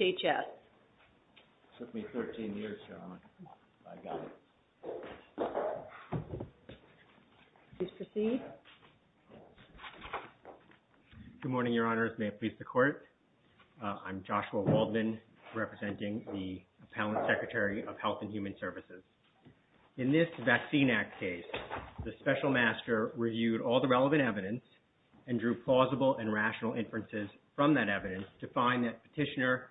It took me 13 years, Sharon, but I got it. Please proceed. Good morning, Your Honors. May it please the Court? I'm Joshua Waldman, representing the Appellant Secretary of Health and Human Services. In this Vaccine Act case, the Special Master reviewed all the relevant evidence and drew plausible and rational inferences from that evidence to find that Petitioner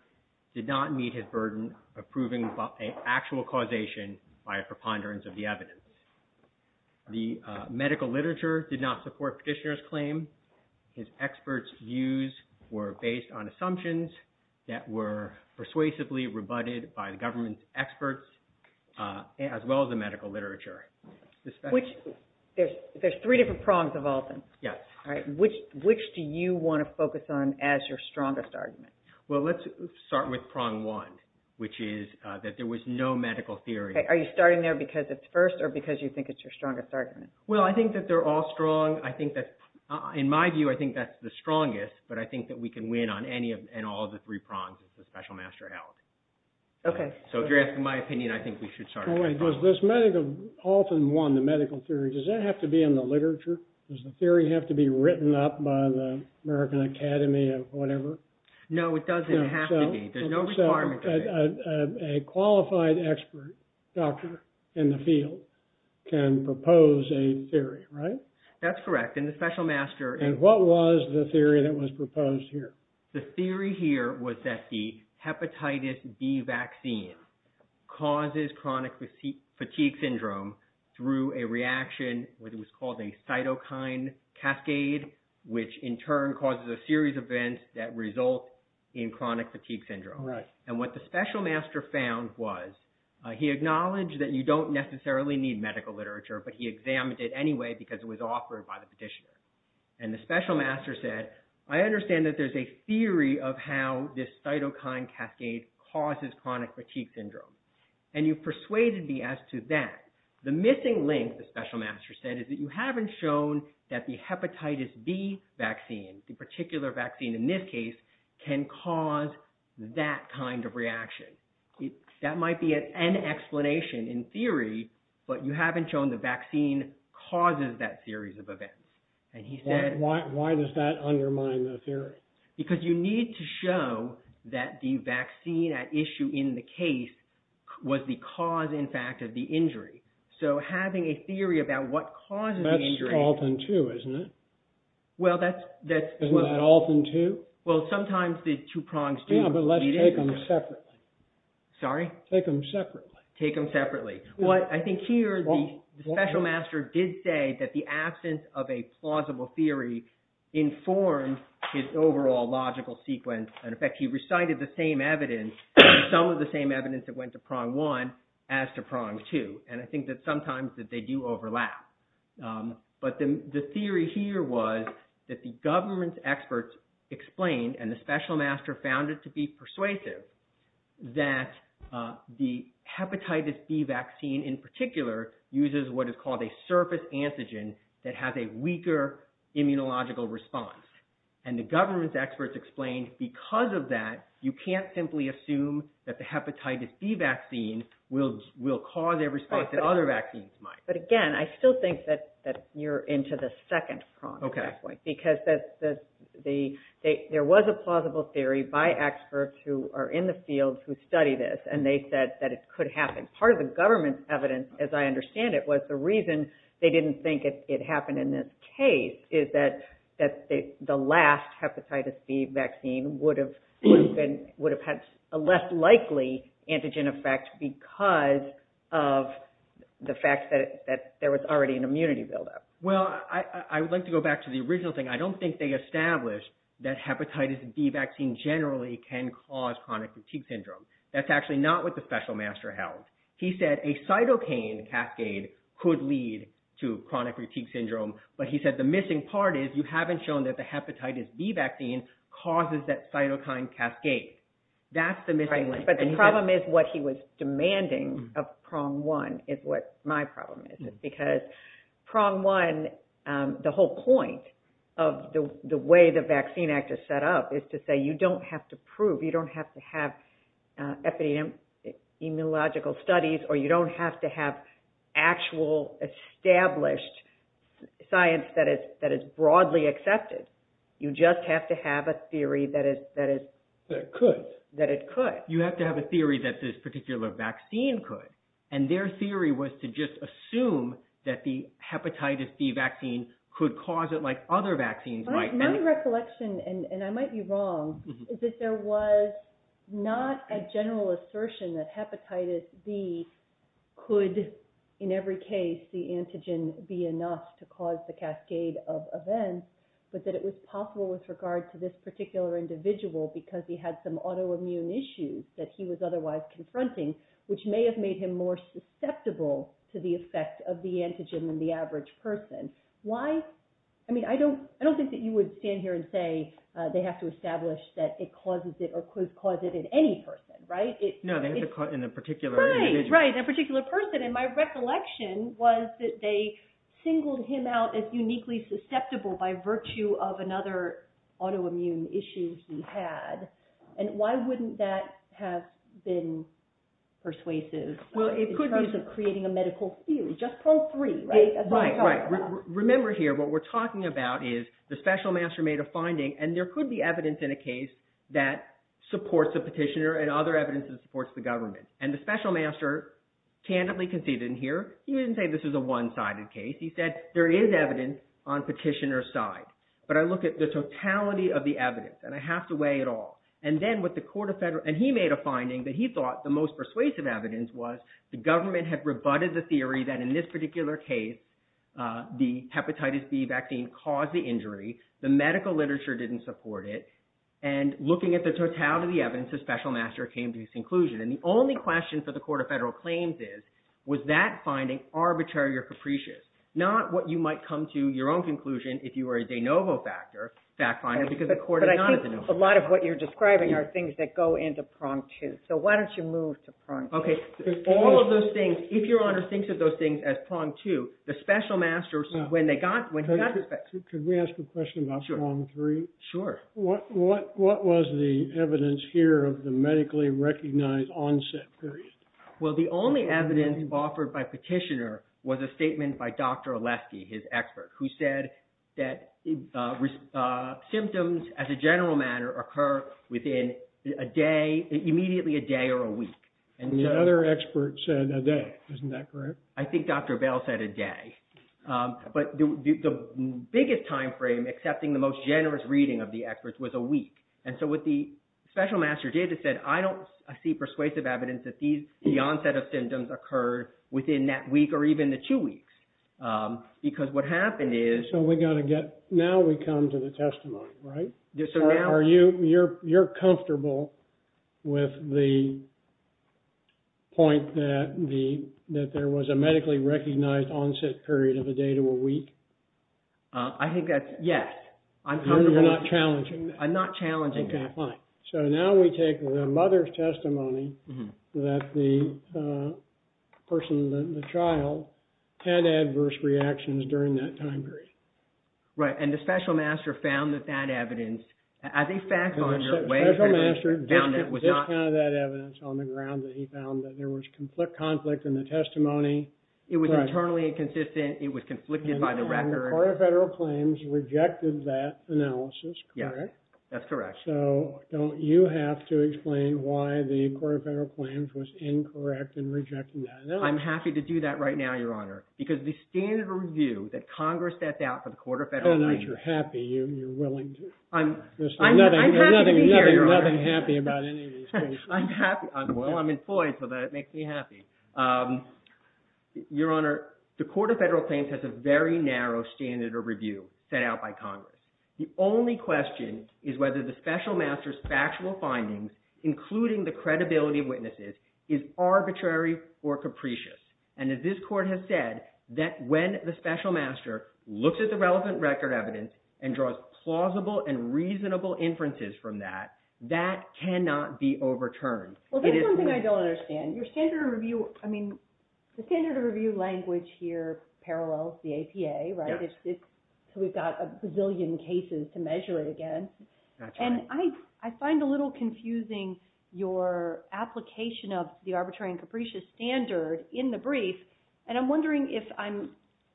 did not meet his burden of proving an actual causation by a preponderance of the evidence. The medical literature did not support Petitioner's claim. His experts' views were based on assumptions that were persuasively rebutted by the government's as well as the medical literature. There's three different prongs of all of them. Yes. All right. Which do you want to focus on as your strongest argument? Well, let's start with prong one, which is that there was no medical theory. Are you starting there because it's first or because you think it's your strongest argument? Well, I think that they're all strong. In my view, I think that's the strongest, but I think that we can win on any and all of the three prongs if the Special Master held. Okay. So if you're asking my opinion, I think we should start with prong one. Well, wait. Was this medical often won, the medical theory? Does that have to be in the literature? Does the theory have to be written up by the American Academy or whatever? No, it doesn't have to be. There's no requirement of it. So a qualified expert doctor in the field can propose a theory, right? That's correct. And the Special Master... And what was the theory that was proposed here? The theory here was that the hepatitis B vaccine causes chronic fatigue syndrome through a reaction, what was called a cytokine cascade, which in turn causes a series of events that result in chronic fatigue syndrome. Right. And what the Special Master found was he acknowledged that you don't necessarily need medical literature, but he examined it anyway because it was offered by the petitioner. And the Special Master said, I understand that there's a theory of how this cytokine cascade causes chronic fatigue syndrome. And you persuaded me as to that. The missing link, the Special Master said, is that you haven't shown that the hepatitis B vaccine, the particular vaccine in this case, can cause that kind of reaction. That might be an explanation in theory, but you haven't shown the vaccine causes that series of events. And he said... Why does that undermine the theory? Because you need to show that the vaccine at issue in the case was the cause, in fact, of the injury. So having a theory about what causes the injury... That's Alton 2, isn't it? Well, that's... Isn't that Alton 2? Well, sometimes the two prongs do meet... Yeah, but let's take them separately. Sorry? Take them separately. Take them separately. I think here, the Special Master did say that the absence of a plausible theory informed his overall logical sequence. And in fact, he recited the same evidence, some of the same evidence that went to prong 1 as to prong 2. And I think that sometimes that they do overlap. But the theory here was that the government experts explained, and the Special Master found it to be persuasive, that the hepatitis B vaccine, in particular, uses what is called a surface antigen that has a weaker immunological response. And the government experts explained, because of that, you can't simply assume that the hepatitis B vaccine will cause a response that other vaccines might. But again, I still think that you're into the second prong at this point. Because there was a plausible theory by experts who are in the field who study this, and they said that it could happen. Part of the government's evidence, as I understand it, was the reason they didn't think it happened in this case, is that the last hepatitis B vaccine would have had a less likely antigen effect because of the fact that there was already an immunity buildup. Well, I would like to go back to the original thing. I don't think they established that hepatitis B vaccine generally can cause chronic fatigue syndrome. That's actually not what the Special Master held. He said a cytokine cascade could lead to chronic fatigue syndrome. But he said the missing part is you haven't shown that the hepatitis B vaccine causes that cytokine cascade. That's the missing link. But the problem is what he was demanding of prong 1 is what my problem is. Because prong 1, the whole point of the way the Vaccine Act is set up, is to say you don't have to prove, you don't have to have epidemiological studies, or you don't have to have actual established science that is broadly accepted. You just have to have a theory that it could. You have to have a theory that this particular vaccine could. And their theory was to just assume that the hepatitis B vaccine could cause it like other vaccines. My recollection, and I might be wrong, is that there was not a general assertion that hepatitis B could, in every case, the antigen be enough to cause the cascade of events, but that it was possible with regard to this particular individual because he had some autoimmune issues that he was otherwise confronting, which may have made him more susceptible to the effect of the antigen than the average person. Why? I mean, I don't think that you would stand here and say they have to establish that it causes it or could cause it in any person, right? No, they have to cause it in a particular individual. Right, right, in a particular person. And my recollection was that they singled him out as uniquely susceptible by virtue of another autoimmune issue he had. And why wouldn't that have been persuasive in terms of creating a medical theory? Just probe three, right? Right, right. Remember here what we're talking about is the special master made a finding, and there could be evidence in a case that supports the petitioner and other evidence that supports the government. And the special master candidly conceded in here. He didn't say this was a one-sided case. He said there is evidence on petitioner's side. But I look at the totality of the evidence, and I have to weigh it all. And then with the court of federal – and he made a finding that he thought the most persuasive evidence was the government had rebutted the theory that in this particular case, the hepatitis B vaccine caused the injury. The medical literature didn't support it. And looking at the totality of the evidence, the special master came to his conclusion. And the only question for the court of federal claims is, was that finding arbitrary or capricious? Not what you might come to your own conclusion if you were a de novo factor, fact finder, because the court is not a de novo. But I think a lot of what you're describing are things that go into prong two. So why don't you move to prong two? Okay. All of those things, if Your Honor thinks of those things as prong two, the special masters, when they got – Could we ask a question about prong three? Sure. What was the evidence here of the medically recognized onset period? Well, the only evidence offered by petitioner was a statement by Dr. Oleski, his expert, who said that symptoms, as a general matter, occur within a day, immediately a day or a week. And the other expert said a day. Isn't that correct? I think Dr. Bell said a day. But the biggest timeframe, excepting the most generous reading of the experts, was a week. And so what the special master did is said, I don't see persuasive evidence that the onset of symptoms occurred within that week or even the two weeks. Because what happened is – So we've got to get – now we come to the testimony, right? Are you – you're comfortable with the point that there was a medically recognized onset period of a day to a week? I think that's – yes. You're not challenging that? I'm not challenging that. Okay, fine. So now we take the mother's testimony that the person, the child, had adverse reactions during that time period. Right. And the special master found that that evidence, as a fact, on your way – The special master did find that evidence on the ground that he found that there was conflict in the testimony. It was internally inconsistent. It was conflicted by the record. The Court of Federal Claims rejected that analysis, correct? Yes, that's correct. So don't you have to explain why the Court of Federal Claims was incorrect in rejecting that analysis? I'm happy to do that right now, Your Honor, because the standard of review that Congress sets out for the Court of Federal Claims – Oh, no, you're happy. You're willing to. I'm happy to be here, Your Honor. There's nothing happy about any of these cases. I'm happy. Well, I'm employed, so that makes me happy. Your Honor, the Court of Federal Claims has a very narrow standard of review set out by Congress. The only question is whether the special master's factual findings, including the credibility of witnesses, is arbitrary or capricious. And as this Court has said, that when the special master looks at the relevant record evidence and draws plausible and reasonable inferences from that, that cannot be overturned. Well, that's one thing I don't understand. Your standard of review – I mean, the standard of review language here parallels the APA, right? So we've got a bazillion cases to measure it against. And I find a little confusing your application of the arbitrary and capricious standard in the brief. And I'm wondering if I'm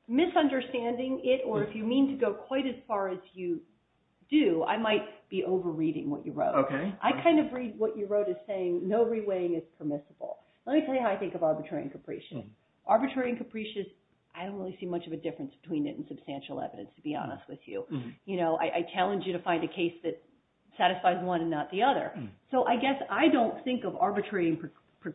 misunderstanding it or if you mean to go quite as far as you do. I might be over-reading what you wrote. Okay. I kind of read what you wrote as saying no re-weighing is permissible. Let me tell you how I think of arbitrary and capricious. Arbitrary and capricious, I don't really see much of a difference between it and substantial evidence, to be honest with you. I challenge you to find a case that satisfies one and not the other. So I guess I don't think of arbitrary and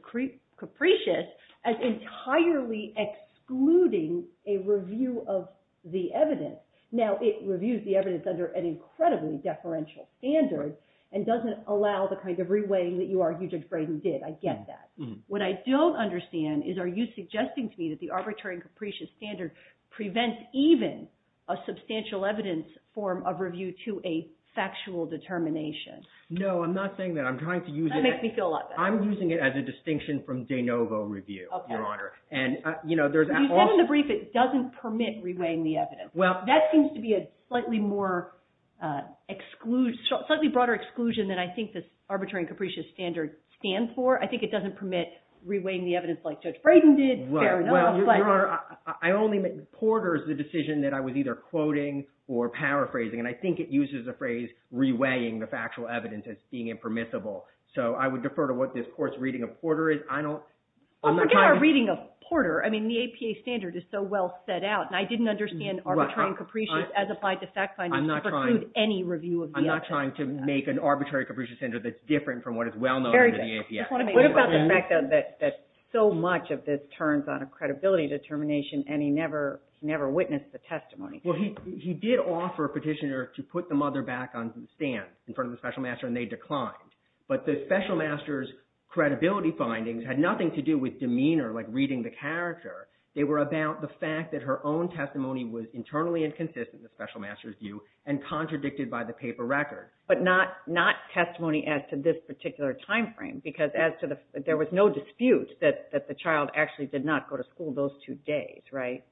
capricious as entirely excluding a review of the evidence. Now, it reviews the evidence under an incredibly deferential standard and doesn't allow the kind of re-weighing that you argue Judge Graydon did. I get that. What I don't understand is are you suggesting to me that the arbitrary and capricious standard prevents even a substantial evidence form of review to a factual determination? No, I'm not saying that. I'm trying to use it as – That makes me feel a lot better. I'm using it as a distinction from de novo review, Your Honor. Okay. And there's – You said in the brief it doesn't permit re-weighing the evidence. Well – That seems to be a slightly more – slightly broader exclusion than I think this arbitrary and capricious standard stands for. I think it doesn't permit re-weighing the evidence like Judge Graydon did. Fair enough, but – Well, Your Honor, I only – Porter's the decision that I was either quoting or paraphrasing, and I think it uses the phrase re-weighing the factual evidence as being impermissible. So I would defer to what this court's reading of Porter is. I don't – Well, forget our reading of Porter. I mean, the APA standard is so well set out, and I didn't understand arbitrary and capricious as applied to fact findings preclude any review of the APA standard. I'm not trying to make an arbitrary and capricious standard that's different from what is well known under the APA. What about the fact that so much of this turns on a credibility determination, and he never witnessed the testimony? Well, he did offer Petitioner to put the mother back on the stand in front of the special master, and they declined. But the special master's credibility findings had nothing to do with demeanor, like reading the character. They were about the fact that her own testimony was internally inconsistent, the special master's view, and contradicted by the paper record. But not testimony as to this particular timeframe, because as to the – there was no dispute that the child actually did not go to school those two days, right?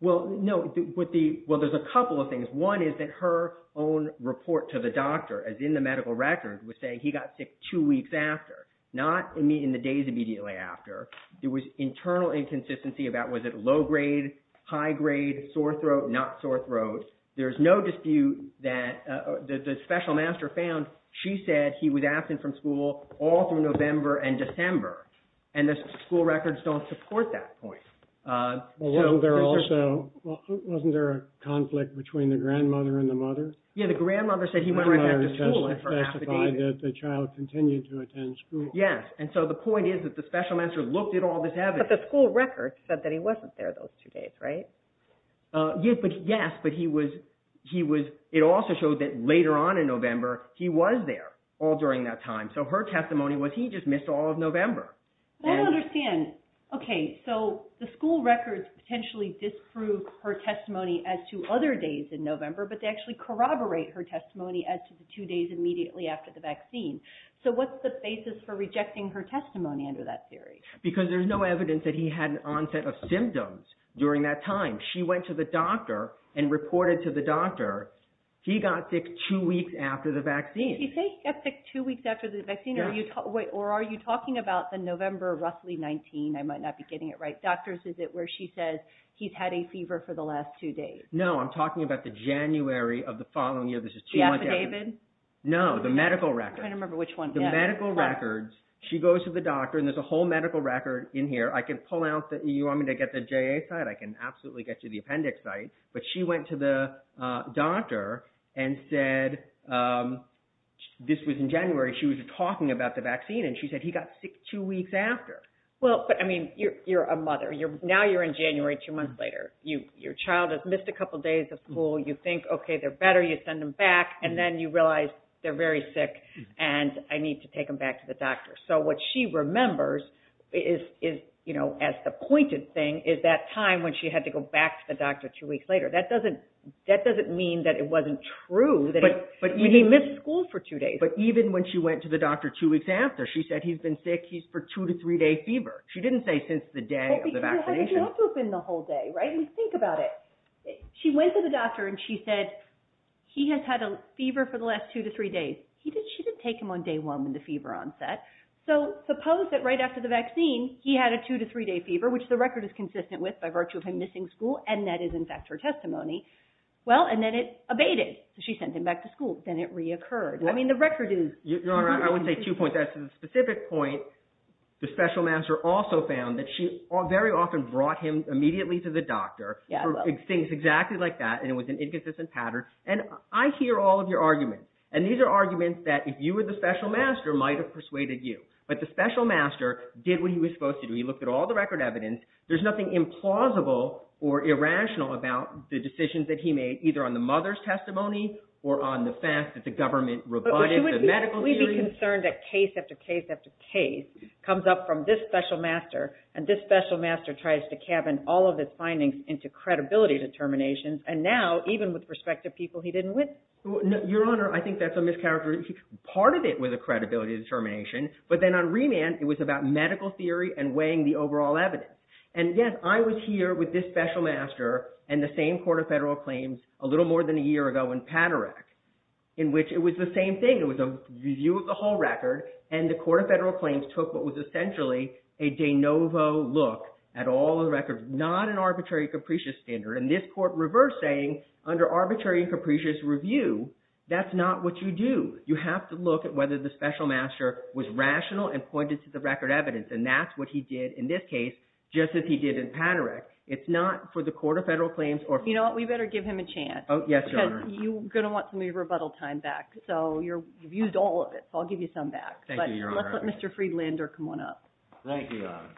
Well, no, but the – well, there's a couple of things. One is that her own report to the doctor, as in the medical record, was saying he got sick two weeks after, not in the days immediately after. There was internal inconsistency about was it low grade, high grade, sore throat, not sore throat. There's no dispute that the special master found she said he was absent from school all through November and December, and the school records don't support that point. Well, there also – wasn't there a conflict between the grandmother and the mother? Yeah, the grandmother said he went right back to school. The mother testified that the child continued to attend school. Yes, and so the point is that the special master looked at all this evidence. But the school records said that he wasn't there those two days, right? Yes, but he was – it also showed that later on in November, he was there all during that time. So her testimony was he just missed all of November. I don't understand. Okay, so the school records potentially disprove her testimony as to other days in November, but they actually corroborate her testimony as to the two days immediately after the vaccine. So what's the basis for rejecting her testimony under that theory? Because there's no evidence that he had an onset of symptoms during that time. She went to the doctor and reported to the doctor he got sick two weeks after the vaccine. Did he say he got sick two weeks after the vaccine, or are you talking about the November of roughly 19? I might not be getting it right. Doctors, is it where she says he's had a fever for the last two days? No, I'm talking about the January of the following year. The affidavit? No, the medical records. I'm trying to remember which one. The medical records. She goes to the doctor, and there's a whole medical record in here. I can pull out – you want me to get the JA site? I can absolutely get you the appendix site. But she went to the doctor and said this was in January. She was talking about the vaccine, and she said he got sick two weeks after. Well, but, I mean, you're a mother. Now you're in January two months later. Your child has missed a couple days of school. You think, okay, they're better. You send them back, and then you realize they're very sick, and I need to take them back to the doctor. So what she remembers as the pointed thing is that time when she had to go back to the doctor two weeks later. That doesn't mean that it wasn't true that he missed school for two days. But even when she went to the doctor two weeks after, she said he's been sick. He's for two- to three-day fever. She didn't say since the day of the vaccination. Well, because he had to have been the whole day, right? I mean, think about it. She went to the doctor, and she said he has had a fever for the last two to three days. She didn't take him on day one when the fever onset. So suppose that right after the vaccine, he had a two- to three-day fever, which the record is consistent with by virtue of him missing school, and that is, in fact, her testimony. Well, and then it abated, so she sent him back to school. Then it reoccurred. I mean, the record is consistent. Your Honor, I would say two points. As to the specific point, the special master also found that she very often brought him immediately to the doctor for things exactly like that, and it was an inconsistent pattern. And I hear all of your arguments. And these are arguments that if you were the special master, might have persuaded you. But the special master did what he was supposed to do. He looked at all the record evidence. There's nothing implausible or irrational about the decisions that he made, either on the mother's testimony or on the fact that the government rebutted the medical theory. But wouldn't we be concerned that case after case after case comes up from this special master, and this special master tries to cabin all of his findings into credibility determinations, and now, even with respect to people he didn't witness? Your Honor, I think that's a mischaracterization. Part of it was a credibility determination, but then on remand, it was about medical theory and weighing the overall evidence. And, yes, I was here with this special master and the same Court of Federal Claims a little more than a year ago in Paderak, in which it was the same thing. It was a review of the whole record, and the Court of Federal Claims took what was essentially a de novo look at all the records, not an arbitrary and capricious standard. And this Court reversed, saying under arbitrary and capricious review, that's not what you do. You have to look at whether the special master was rational and pointed to the record evidence, and that's what he did in this case, just as he did in Paderak. It's not for the Court of Federal Claims or – You know what? We better give him a chance. Yes, Your Honor. Because you're going to want some of your rebuttal time back. So you've used all of it, so I'll give you some back. Thank you, Your Honor. But let's let Mr. Friedlander come on up. Thank you, Your Honor.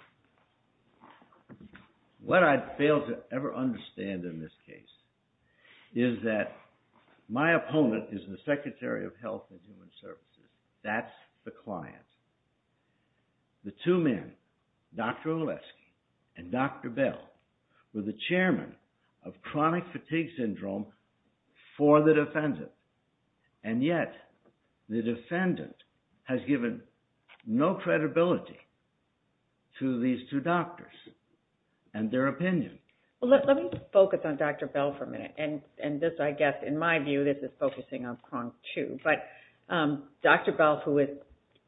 What I fail to ever understand in this case is that my opponent is the Secretary of Health and Human Services. That's the client. The two men, Dr. Oleski and Dr. Bell, were the chairmen of Chronic Fatigue Syndrome for the defendant. And yet, the defendant has given no credibility to these two doctors and their opinion. Well, let me focus on Dr. Bell for a minute. And this, I guess, in my view, this is focusing on Kong, too. But Dr. Bell, who is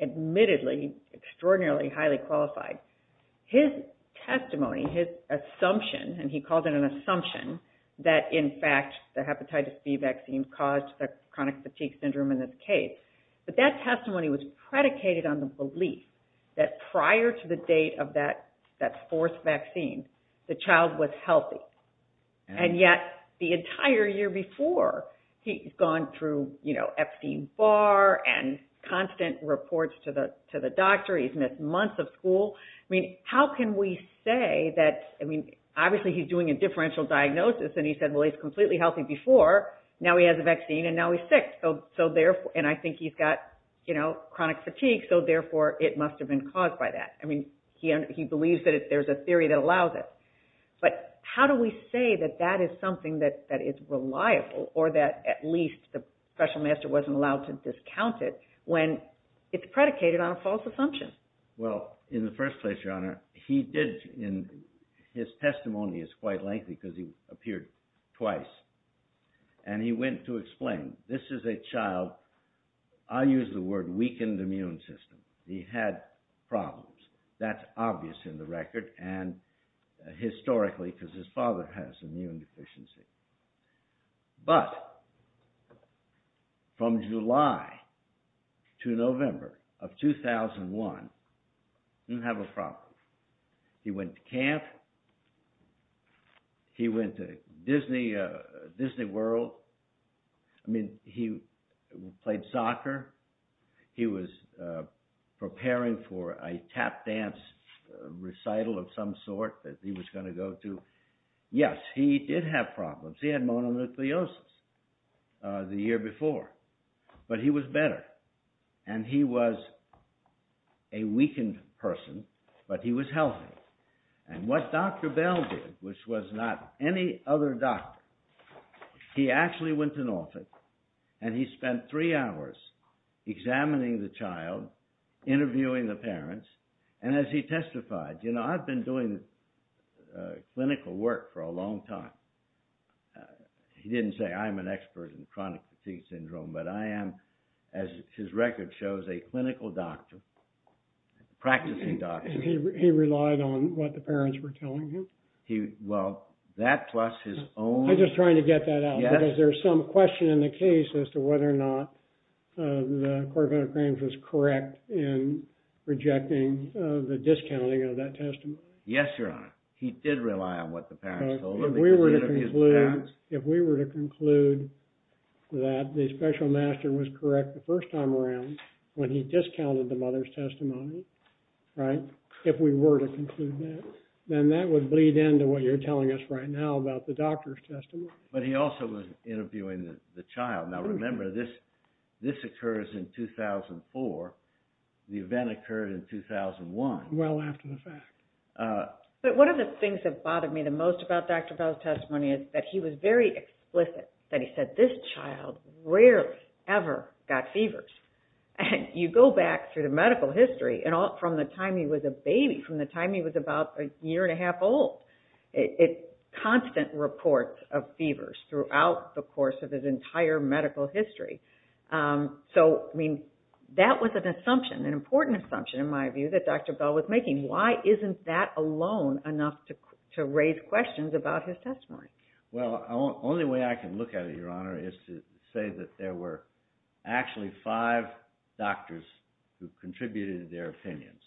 admittedly extraordinarily highly qualified, his testimony, his assumption – and he called it an assumption – that, in fact, the hepatitis B vaccine caused the chronic fatigue syndrome in this case. But that testimony was predicated on the belief that prior to the date of that fourth vaccine, the child was healthy. And yet, the entire year before, he's gone through Epstein-Barr and constant reports to the doctor. He's missed months of school. I mean, how can we say that – I mean, obviously, he's doing a differential diagnosis. And he said, well, he was completely healthy before. Now he has a vaccine, and now he's sick. And I think he's got chronic fatigue, so therefore, it must have been caused by that. I mean, he believes that there's a theory that allows it. But how do we say that that is something that is reliable or that at least the professional master wasn't allowed to discount it when it's predicated on a false assumption? Well, in the first place, Your Honor, he did – his testimony is quite lengthy because he appeared twice. And he went to explain, this is a child – I use the word weakened immune system. He had problems. That's obvious in the record. And historically, because his father has immune deficiency. But from July to November of 2001, he didn't have a problem. He went to camp. He went to Disney World. I mean, he played soccer. He was preparing for a tap dance recital of some sort that he was going to go to. Yes, he did have problems. He had mononucleosis the year before. But he was better. And he was a weakened person, but he was healthy. And what Dr. Bell did, which was not any other doctor, he actually went to Norfolk and he spent three hours examining the child, interviewing the parents, and as he testified, you know, I've been doing clinical work for a long time. He didn't say, I'm an expert in chronic fatigue syndrome, but I am, as his record shows, a clinical doctor, practicing doctor. He relied on what the parents were telling him? Well, that plus his own... I'm just trying to get that out, because there's some question in the case as to whether or not the court of medical claims was correct in rejecting the discounting of that testimony. Yes, Your Honor. He did rely on what the parents told him. If we were to conclude that the special master was correct the first time around when he discounted the mother's testimony, right, if we were to conclude that, then that would bleed into what you're telling us right now about the doctor's testimony. But he also was interviewing the child. Now remember, this occurs in 2004. The event occurred in 2001. Well after the fact. But one of the things that bothered me the most about Dr. Bell's testimony is that he was very explicit, that he said, this child rarely ever got fevers. And you go back through the medical history, and from the time he was a baby, from the time he was about a year and a half old, constant reports of fevers throughout the course of his entire medical history. So, I mean, that was an assumption, an important assumption in my view, that Dr. Bell was making. Why isn't that alone enough to raise questions about his testimony? Well, the only way I can look at it, Your Honor, is to say that there were actually five doctors who contributed their opinions.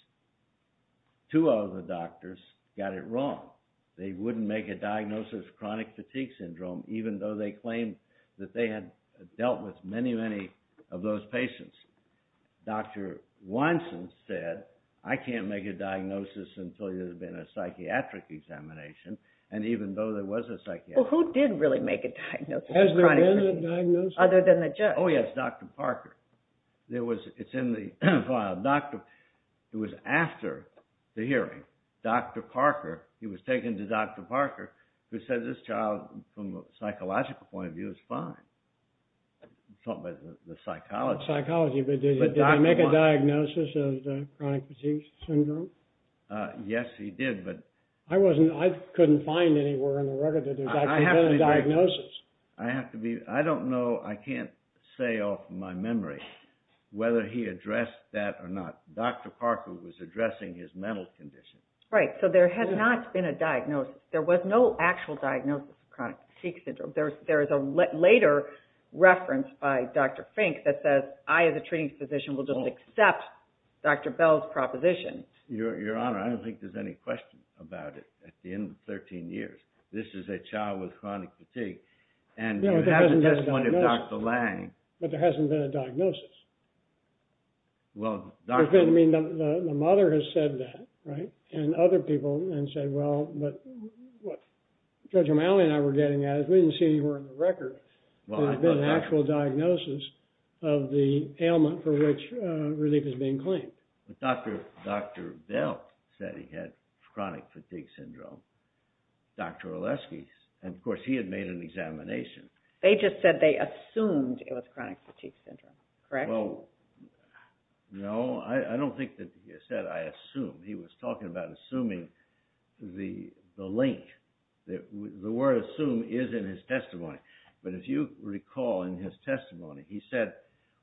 Two of the doctors got it wrong. They wouldn't make a diagnosis of chronic fatigue syndrome, even though they claimed that they had dealt with many, many of those patients. Dr. Wineson said, I can't make a diagnosis until there's been a psychiatric examination, and even though there was a psychiatric examination. Well, who did really make a diagnosis of chronic fatigue syndrome? Has there been a diagnosis? Other than the judge. Oh, yes, Dr. Parker. It's in the file. It was after the hearing, Dr. Parker, he was taken to Dr. Parker, who said, this child, from a psychological point of view, is fine. The psychology. The psychology, but did he make a diagnosis of chronic fatigue syndrome? Yes, he did. I couldn't find anywhere in the record that there had been a diagnosis. I don't know. I can't say off my memory whether he addressed that or not. Dr. Parker was addressing his mental condition. Right, so there had not been a diagnosis. There was no actual diagnosis of chronic fatigue syndrome. There is a later reference by Dr. Fink that says, I, as a treating physician, will just accept Dr. Bell's proposition. Your Honor, I don't think there's any question about it at the end of 13 years. This is a child with chronic fatigue. And you have the testimony of Dr. Lange. But there hasn't been a diagnosis. Well, Dr. I mean, the mother has said that, right, and other people have said, well, but what Judge O'Malley and I were getting at is we didn't see anywhere in the record that there had been an actual diagnosis of the ailment for which relief is being claimed. But Dr. Bell said he had chronic fatigue syndrome. Dr. Oleski, and of course, he had made an examination. They just said they assumed it was chronic fatigue syndrome, correct? Well, no, I don't think that he said, I assume. He was talking about assuming the link. The word assume is in his testimony. But if you recall in his testimony, he said,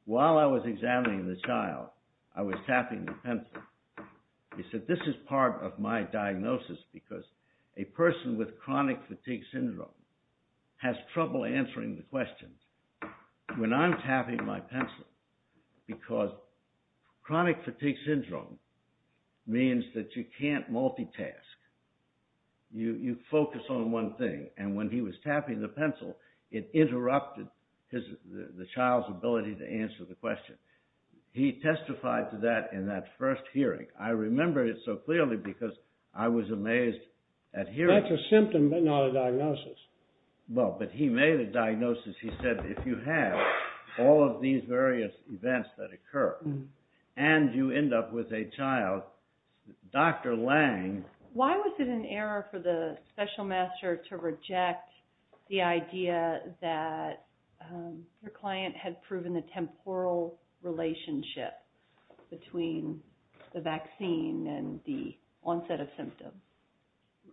while I was examining the child, I was tapping the pencil. He said, this is part of my diagnosis because a person with chronic fatigue syndrome has trouble answering the questions when I'm tapping my pencil because chronic fatigue syndrome means that you can't multitask. You focus on one thing. And when he was tapping the pencil, it interrupted the child's ability to answer the question. He testified to that in that first hearing. I remember it so clearly because I was amazed at hearing it. That's a symptom, but not a diagnosis. Well, but he made a diagnosis. He said, if you have all of these various events that occur and you end up with a child, Dr. Lange Why was it an error for the special master to reject the idea that your client had proven a temporal relationship between the vaccine and the onset of symptoms?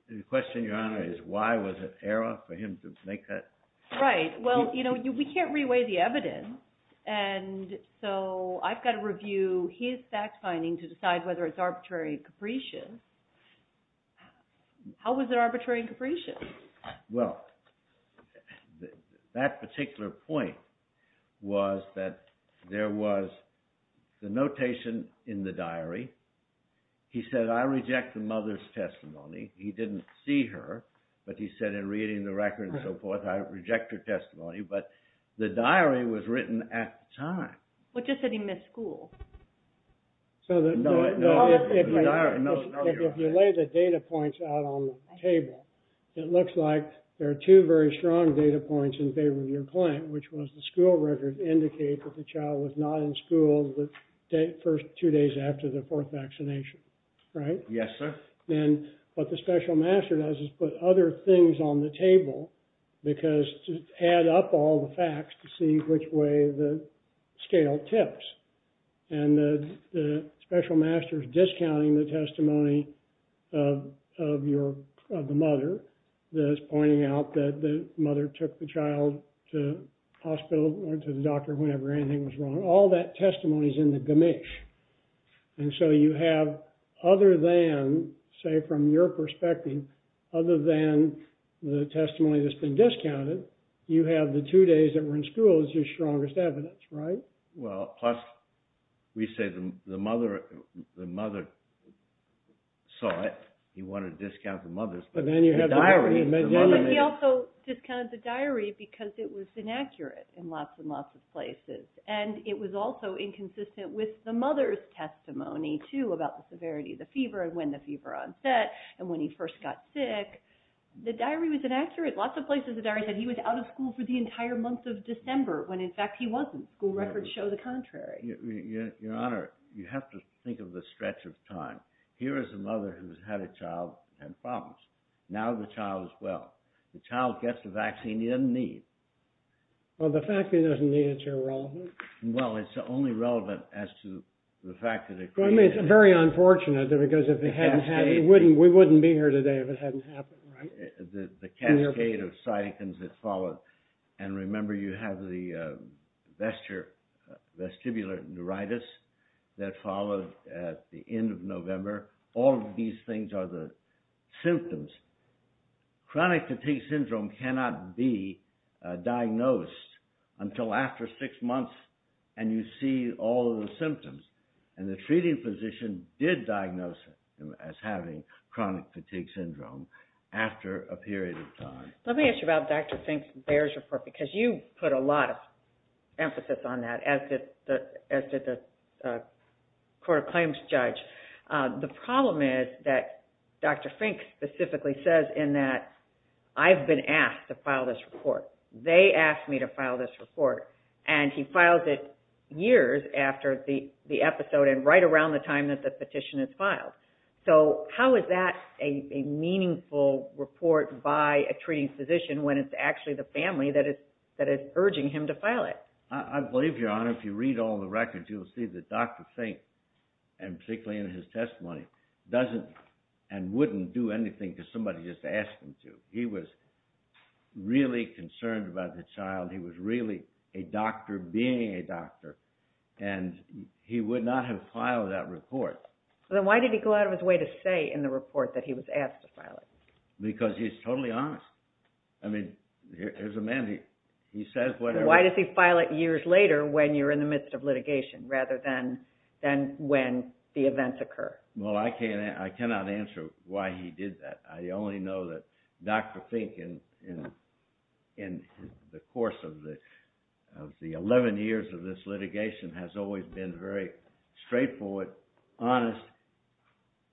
The question, Your Honor, is why was it an error for him to make that? Right, well, you know, we can't re-weigh the evidence. And so I've got to review his fact-finding to decide whether it's arbitrary or capricious. How was it arbitrary and capricious? Well, that particular point was that there was the notation in the diary. He said, I reject the mother's testimony. He didn't see her, but he said in reading the record and so forth, I reject her testimony. But the diary was written at the time. Well, it just said he missed school. No, the diary knows. If you lay the data points out on the table, it looks like there are two very strong data points in favor of your client, which was the school record indicates that the child was not in school the first two days after the fourth vaccination. Right? Yes, sir. And what the special master does is put other things on the table, because to add up all the facts to see which way the scale tips. And the special master is discounting the testimony of the mother. It's pointing out that the mother took the child to the hospital or to the doctor whenever anything was wrong. All that testimony is in the gamish. And so you have other than, say, from your perspective, other than the testimony that's been discounted, you have the two days that were in school as your strongest evidence. Right? Well, plus we say the mother saw it. He wanted to discount the mother's diary. But he also discounted the diary because it was inaccurate in lots and lots of places. And it was also inconsistent with the mother's testimony, too, about the severity of the fever and when the fever onset and when he first got sick. The diary was inaccurate. Lots of places the diary said he was out of school for the entire month of December, when, in fact, he wasn't. School records show the contrary. Your Honor, you have to think of the stretch of time. Here is a mother who's had a child and problems. Now the child is well. The child gets the vaccine he doesn't need. Well, the fact that he doesn't need it's irrelevant. Well, it's only relevant as to the fact that it created... Well, I mean, it's very unfortunate because if it hadn't happened, we wouldn't be here today if it hadn't happened, right? The cascade of cytokines that followed. And remember, you have the vestibular neuritis that followed at the end of November. All of these things are the symptoms. Chronic fatigue syndrome cannot be diagnosed until after six months and you see all of the symptoms. And the treating physician did diagnose him as having chronic fatigue syndrome after a period of time. Let me ask you about Dr. Fink's Bayer's report because you put a lot of emphasis on that, as did the court of claims judge. The problem is that Dr. Fink specifically says in that, I've been asked to file this report. They asked me to file this report. And he filed it years after the episode and right around the time that the petition is filed. So how is that a meaningful report by a treating physician when it's actually the family that is urging him to file it? I believe, Your Honor, if you read all the records, you'll see that Dr. Fink, and particularly in his testimony, doesn't and wouldn't do anything because somebody just asked him to. He was really concerned about the child. He was really a doctor being a doctor, and he would not have filed that report. Then why did he go out of his way to say in the report that he was asked to file it? Because he's totally honest. I mean, here's a man. Why does he file it years later when you're in the midst of litigation rather than when the events occur? Well, I cannot answer why he did that. I only know that Dr. Fink, in the course of the 11 years of this litigation, has always been very straightforward, honest.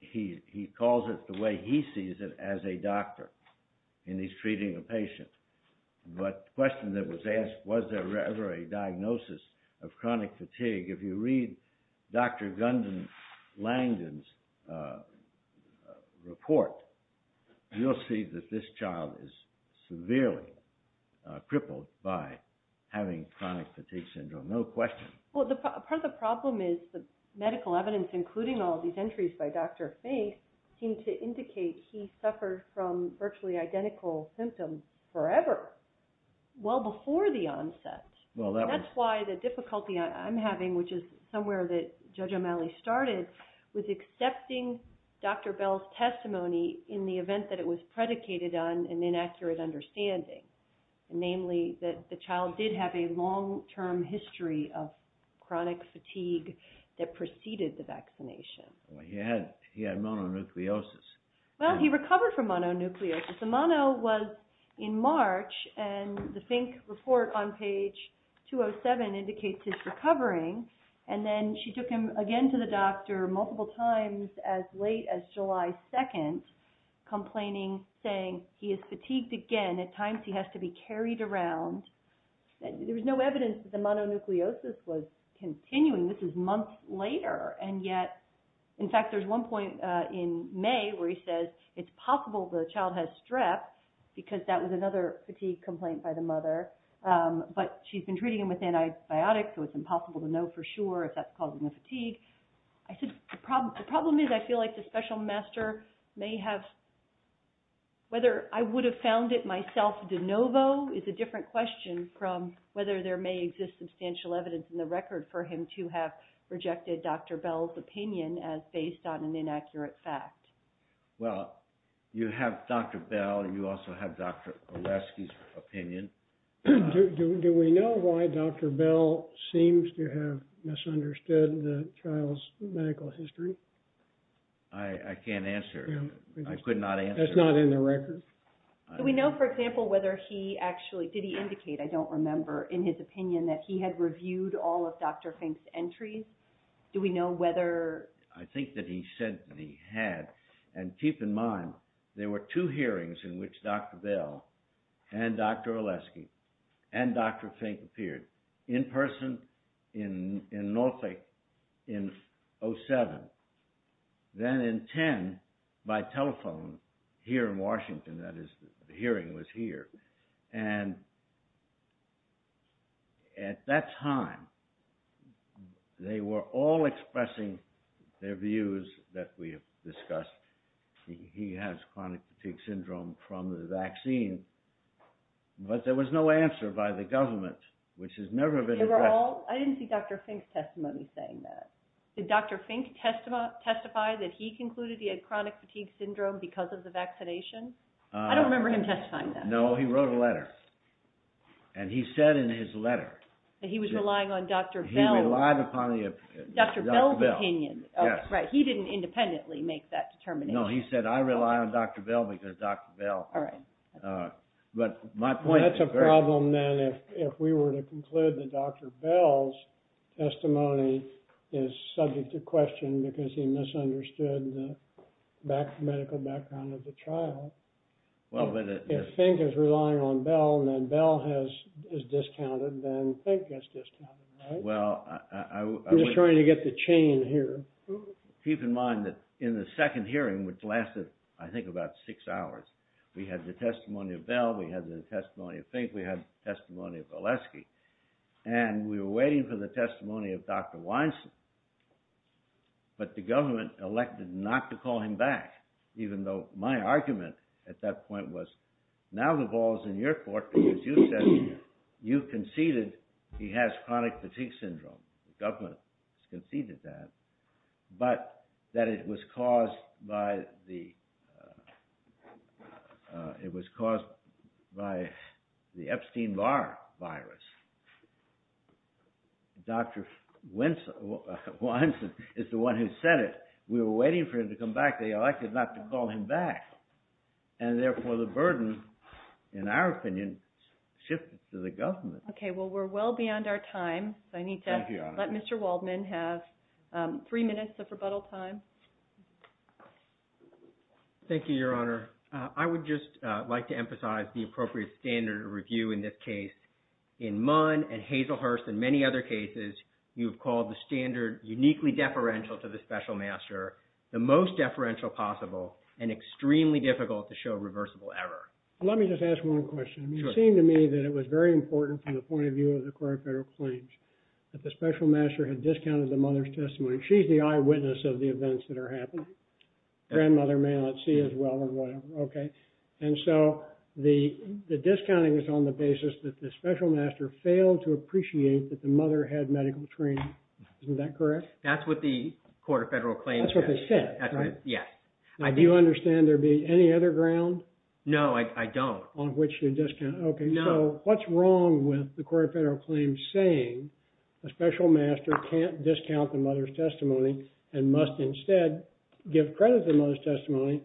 He calls it the way he sees it as a doctor when he's treating a patient. But the question that was asked, was there ever a diagnosis of chronic fatigue? If you read Dr. Gundon Langdon's report, you'll see that this child is severely crippled by having chronic fatigue syndrome. No question. Well, part of the problem is the medical evidence, including all these entries by Dr. Fink, seem to indicate he suffered from virtually identical symptoms forever, well before the onset. That's why the difficulty I'm having, which is somewhere that Judge O'Malley started, was accepting Dr. Bell's testimony in the event that it was predicated on an inaccurate understanding, namely that the child did have a long-term history of chronic fatigue that preceded the vaccination. He had mononucleosis. Well, he recovered from mononucleosis. The mono was in March, and the Fink report on page 207 indicates his recovering, and then she took him again to the doctor multiple times as late as July 2nd, complaining, saying, he is fatigued again. At times he has to be carried around. There was no evidence that the mononucleosis was continuing. This is months later, and yet, in fact, there's one point in May where he says it's possible the child has strep, because that was another fatigue complaint by the mother. But she's been treating him with antibiotics, so it's impossible to know for sure if that's causing the fatigue. The problem is I feel like the special master may have, whether I would have found it myself de novo is a different question from whether there may exist substantial evidence in the record for him to have rejected Dr. Bell's opinion as based on an inaccurate fact. Well, you have Dr. Bell, and you also have Dr. Olasky's opinion. Do we know why Dr. Bell seems to have misunderstood the child's medical history? I can't answer. I could not answer. That's not in the record? Do we know, for example, whether he actually, did he indicate, I don't remember, in his opinion, that he had reviewed all of Dr. Fink's entries? Do we know whether? I think that he said that he had, and keep in mind, there were two hearings in which Dr. Bell and Dr. Olasky and Dr. Fink appeared, in person in Norfolk in 07, then in 10 by telephone here in Washington. That is, the hearing was here. And at that time, they were all expressing their views that we have discussed. He has chronic fatigue syndrome from the vaccine, but there was no answer by the government, which has never been addressed. I didn't see Dr. Fink's testimony saying that. Did Dr. Fink testify that he concluded he had chronic fatigue syndrome because of the vaccination? I don't remember him testifying that. No, he wrote a letter, and he said in his letter. He was relying on Dr. Bell. He relied upon Dr. Bell's opinion. He didn't independently make that determination. No, he said, I rely on Dr. Bell because Dr. Bell. That's a problem, then, if we were to conclude that Dr. Bell's testimony is subject to question because he misunderstood the medical background of the trial. If Fink is relying on Bell, then Bell is discounted, then Fink gets discounted, right? He was trying to get the chain here. Keep in mind that in the second hearing, which lasted, I think, about six hours, we had the testimony of Bell, we had the testimony of Fink, we had the testimony of Valesky. And we were waiting for the testimony of Dr. Weinstein. But the government elected not to call him back, even though my argument at that point was, now the ball's in your court because you said you conceded he has chronic fatigue syndrome. The government conceded that, but that it was caused by the Epstein-Barr virus. Dr. Weinstein is the one who said it. We were waiting for him to come back. They elected not to call him back. And therefore, the burden, in our opinion, shifted to the government. Okay, well, we're well beyond our time, so I need to let Mr. Waldman have three minutes of rebuttal time. Thank you, Your Honor. I would just like to emphasize the appropriate standard of review in this case. In Munn and Hazelhurst and many other cases, you have called the standard uniquely deferential to the special master, the most deferential possible, and extremely difficult to show reversible error. Let me just ask one question. It seemed to me that it was very important from the point of view of the court of federal claims that the special master had discounted the mother's testimony. She's the eyewitness of the events that are happening. Grandmother may not see as well or whatever. Okay. And so the discounting is on the basis that the special master failed to appreciate that the mother had medical training. Isn't that correct? That's what the court of federal claims said. That's what they said, right? Yes. Do you understand there being any other ground? No, I don't. On which to discount. No. Okay, so what's wrong with the court of federal claims saying a special master can't discount the mother's testimony and must instead give credit to the mother's testimony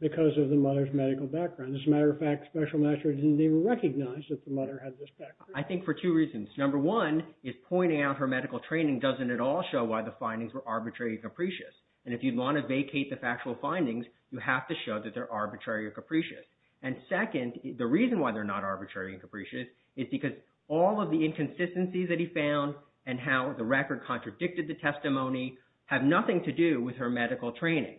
because of the mother's medical background? As a matter of fact, special master didn't even recognize that the mother had this background. I think for two reasons. Number one is pointing out her medical training doesn't at all show why the findings were arbitrary and capricious. And if you'd want to vacate the factual findings, you have to show that they're arbitrary or capricious. And second, the reason why they're not arbitrary and capricious is because all of the inconsistencies that he found and how the record contradicted the testimony have nothing to do with her medical training.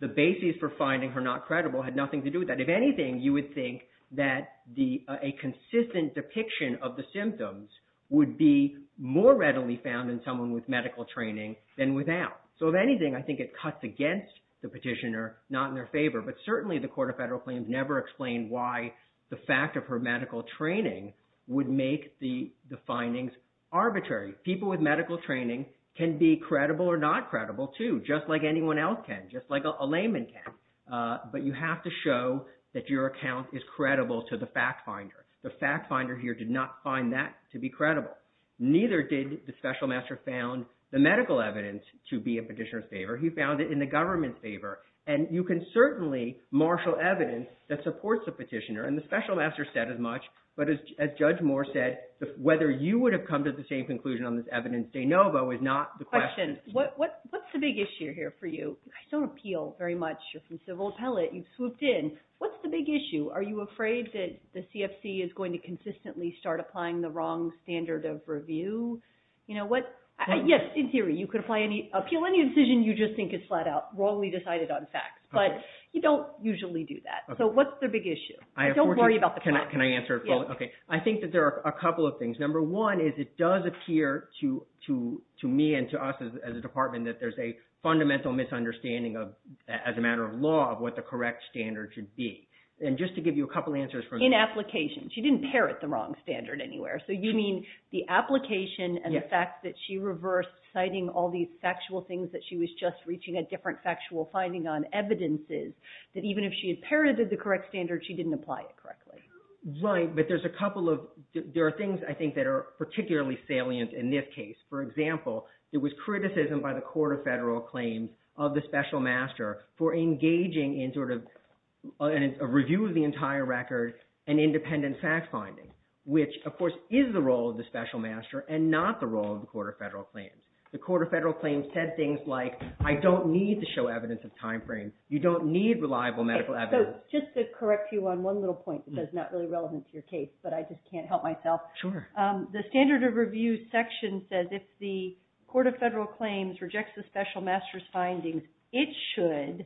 The basis for finding her not credible had nothing to do with that. If anything, you would think that a consistent depiction of the symptoms would be more readily found in someone with medical training than without. So if anything, I think it cuts against the petitioner, not in their favor. But certainly the Court of Federal Claims never explained why the fact of her medical training would make the findings arbitrary. People with medical training can be credible or not credible, too, just like anyone else can, just like a layman can. But you have to show that your account is credible to the fact finder. The fact finder here did not find that to be credible. Neither did the special master found the medical evidence to be in petitioner's favor. He found it in the government's favor. And you can certainly marshal evidence that supports the petitioner. And the special master said as much. But as Judge Moore said, whether you would have come to the same conclusion on this evidence de novo is not the question. What's the big issue here for you? You guys don't appeal very much. You're from civil appellate. You've swooped in. What's the big issue? Are you afraid that the CFC is going to consistently start applying the wrong standard of review? Yes, in theory. You could appeal any decision you just think is flat out wrongly decided on facts. But you don't usually do that. So what's the big issue? Don't worry about the facts. Can I answer it? Okay. I think that there are a couple of things. Number one is it does appear to me and to us as a department that there's a fundamental misunderstanding as a matter of law of what the correct standard should be. And just to give you a couple answers. In application. She didn't parrot the wrong standard anywhere. So you mean the application and the fact that she reversed citing all these factual things that she was just reaching a different factual finding on evidences that even if she had parroted the correct standard, she didn't apply it correctly? Right. But there's a couple of – there are things, I think, that are particularly salient in this case. For example, there was criticism by the Court of Federal Claims of the special master for engaging in sort of a review of the entire record and independent fact finding, which, of course, is the role of the special master and not the role of the Court of Federal Claims. The Court of Federal Claims said things like I don't need to show evidence of timeframe. You don't need reliable medical evidence. So just to correct you on one little point that's not really relevant to your case, but I just can't help myself. Sure. The standard of review section says if the Court of Federal Claims rejects the special master's findings, it should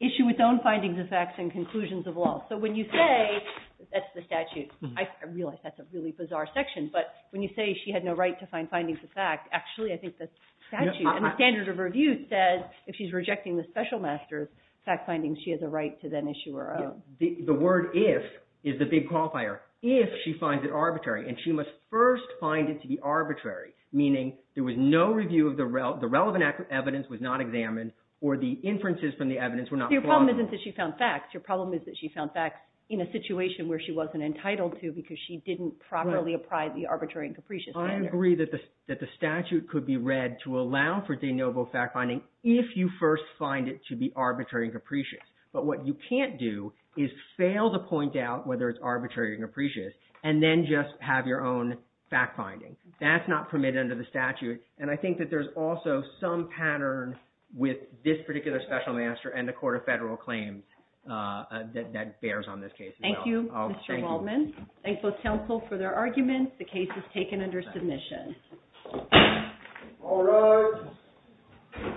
issue its own findings of facts and conclusions of law. So when you say – that's the statute. I realize that's a really bizarre section, but when you say she had no right to find findings of fact, actually, I think that's the statute. And the standard of review says if she's rejecting the special master's fact findings, she has a right to then issue her own. The word if is the big qualifier. If she finds it arbitrary, and she must first find it to be arbitrary, meaning there was no review of the – the relevant evidence was not examined or the inferences from the evidence were not plotted. Your problem isn't that she found facts. Your problem is that she found facts in a situation where she wasn't entitled to because she didn't properly apply the arbitrary and capricious standard. I agree that the statute could be read to allow for de novo fact finding if you first find it to be arbitrary and capricious. But what you can't do is fail to point out whether it's arbitrary or capricious and then just have your own fact finding. That's not permitted under the statute. And I think that there's also some pattern with this particular special master and the Court of Federal Claims that bears on this case as well. Thank you, Mr. Waldman. Thank both counsel for their arguments. The case is taken under submission. All rise.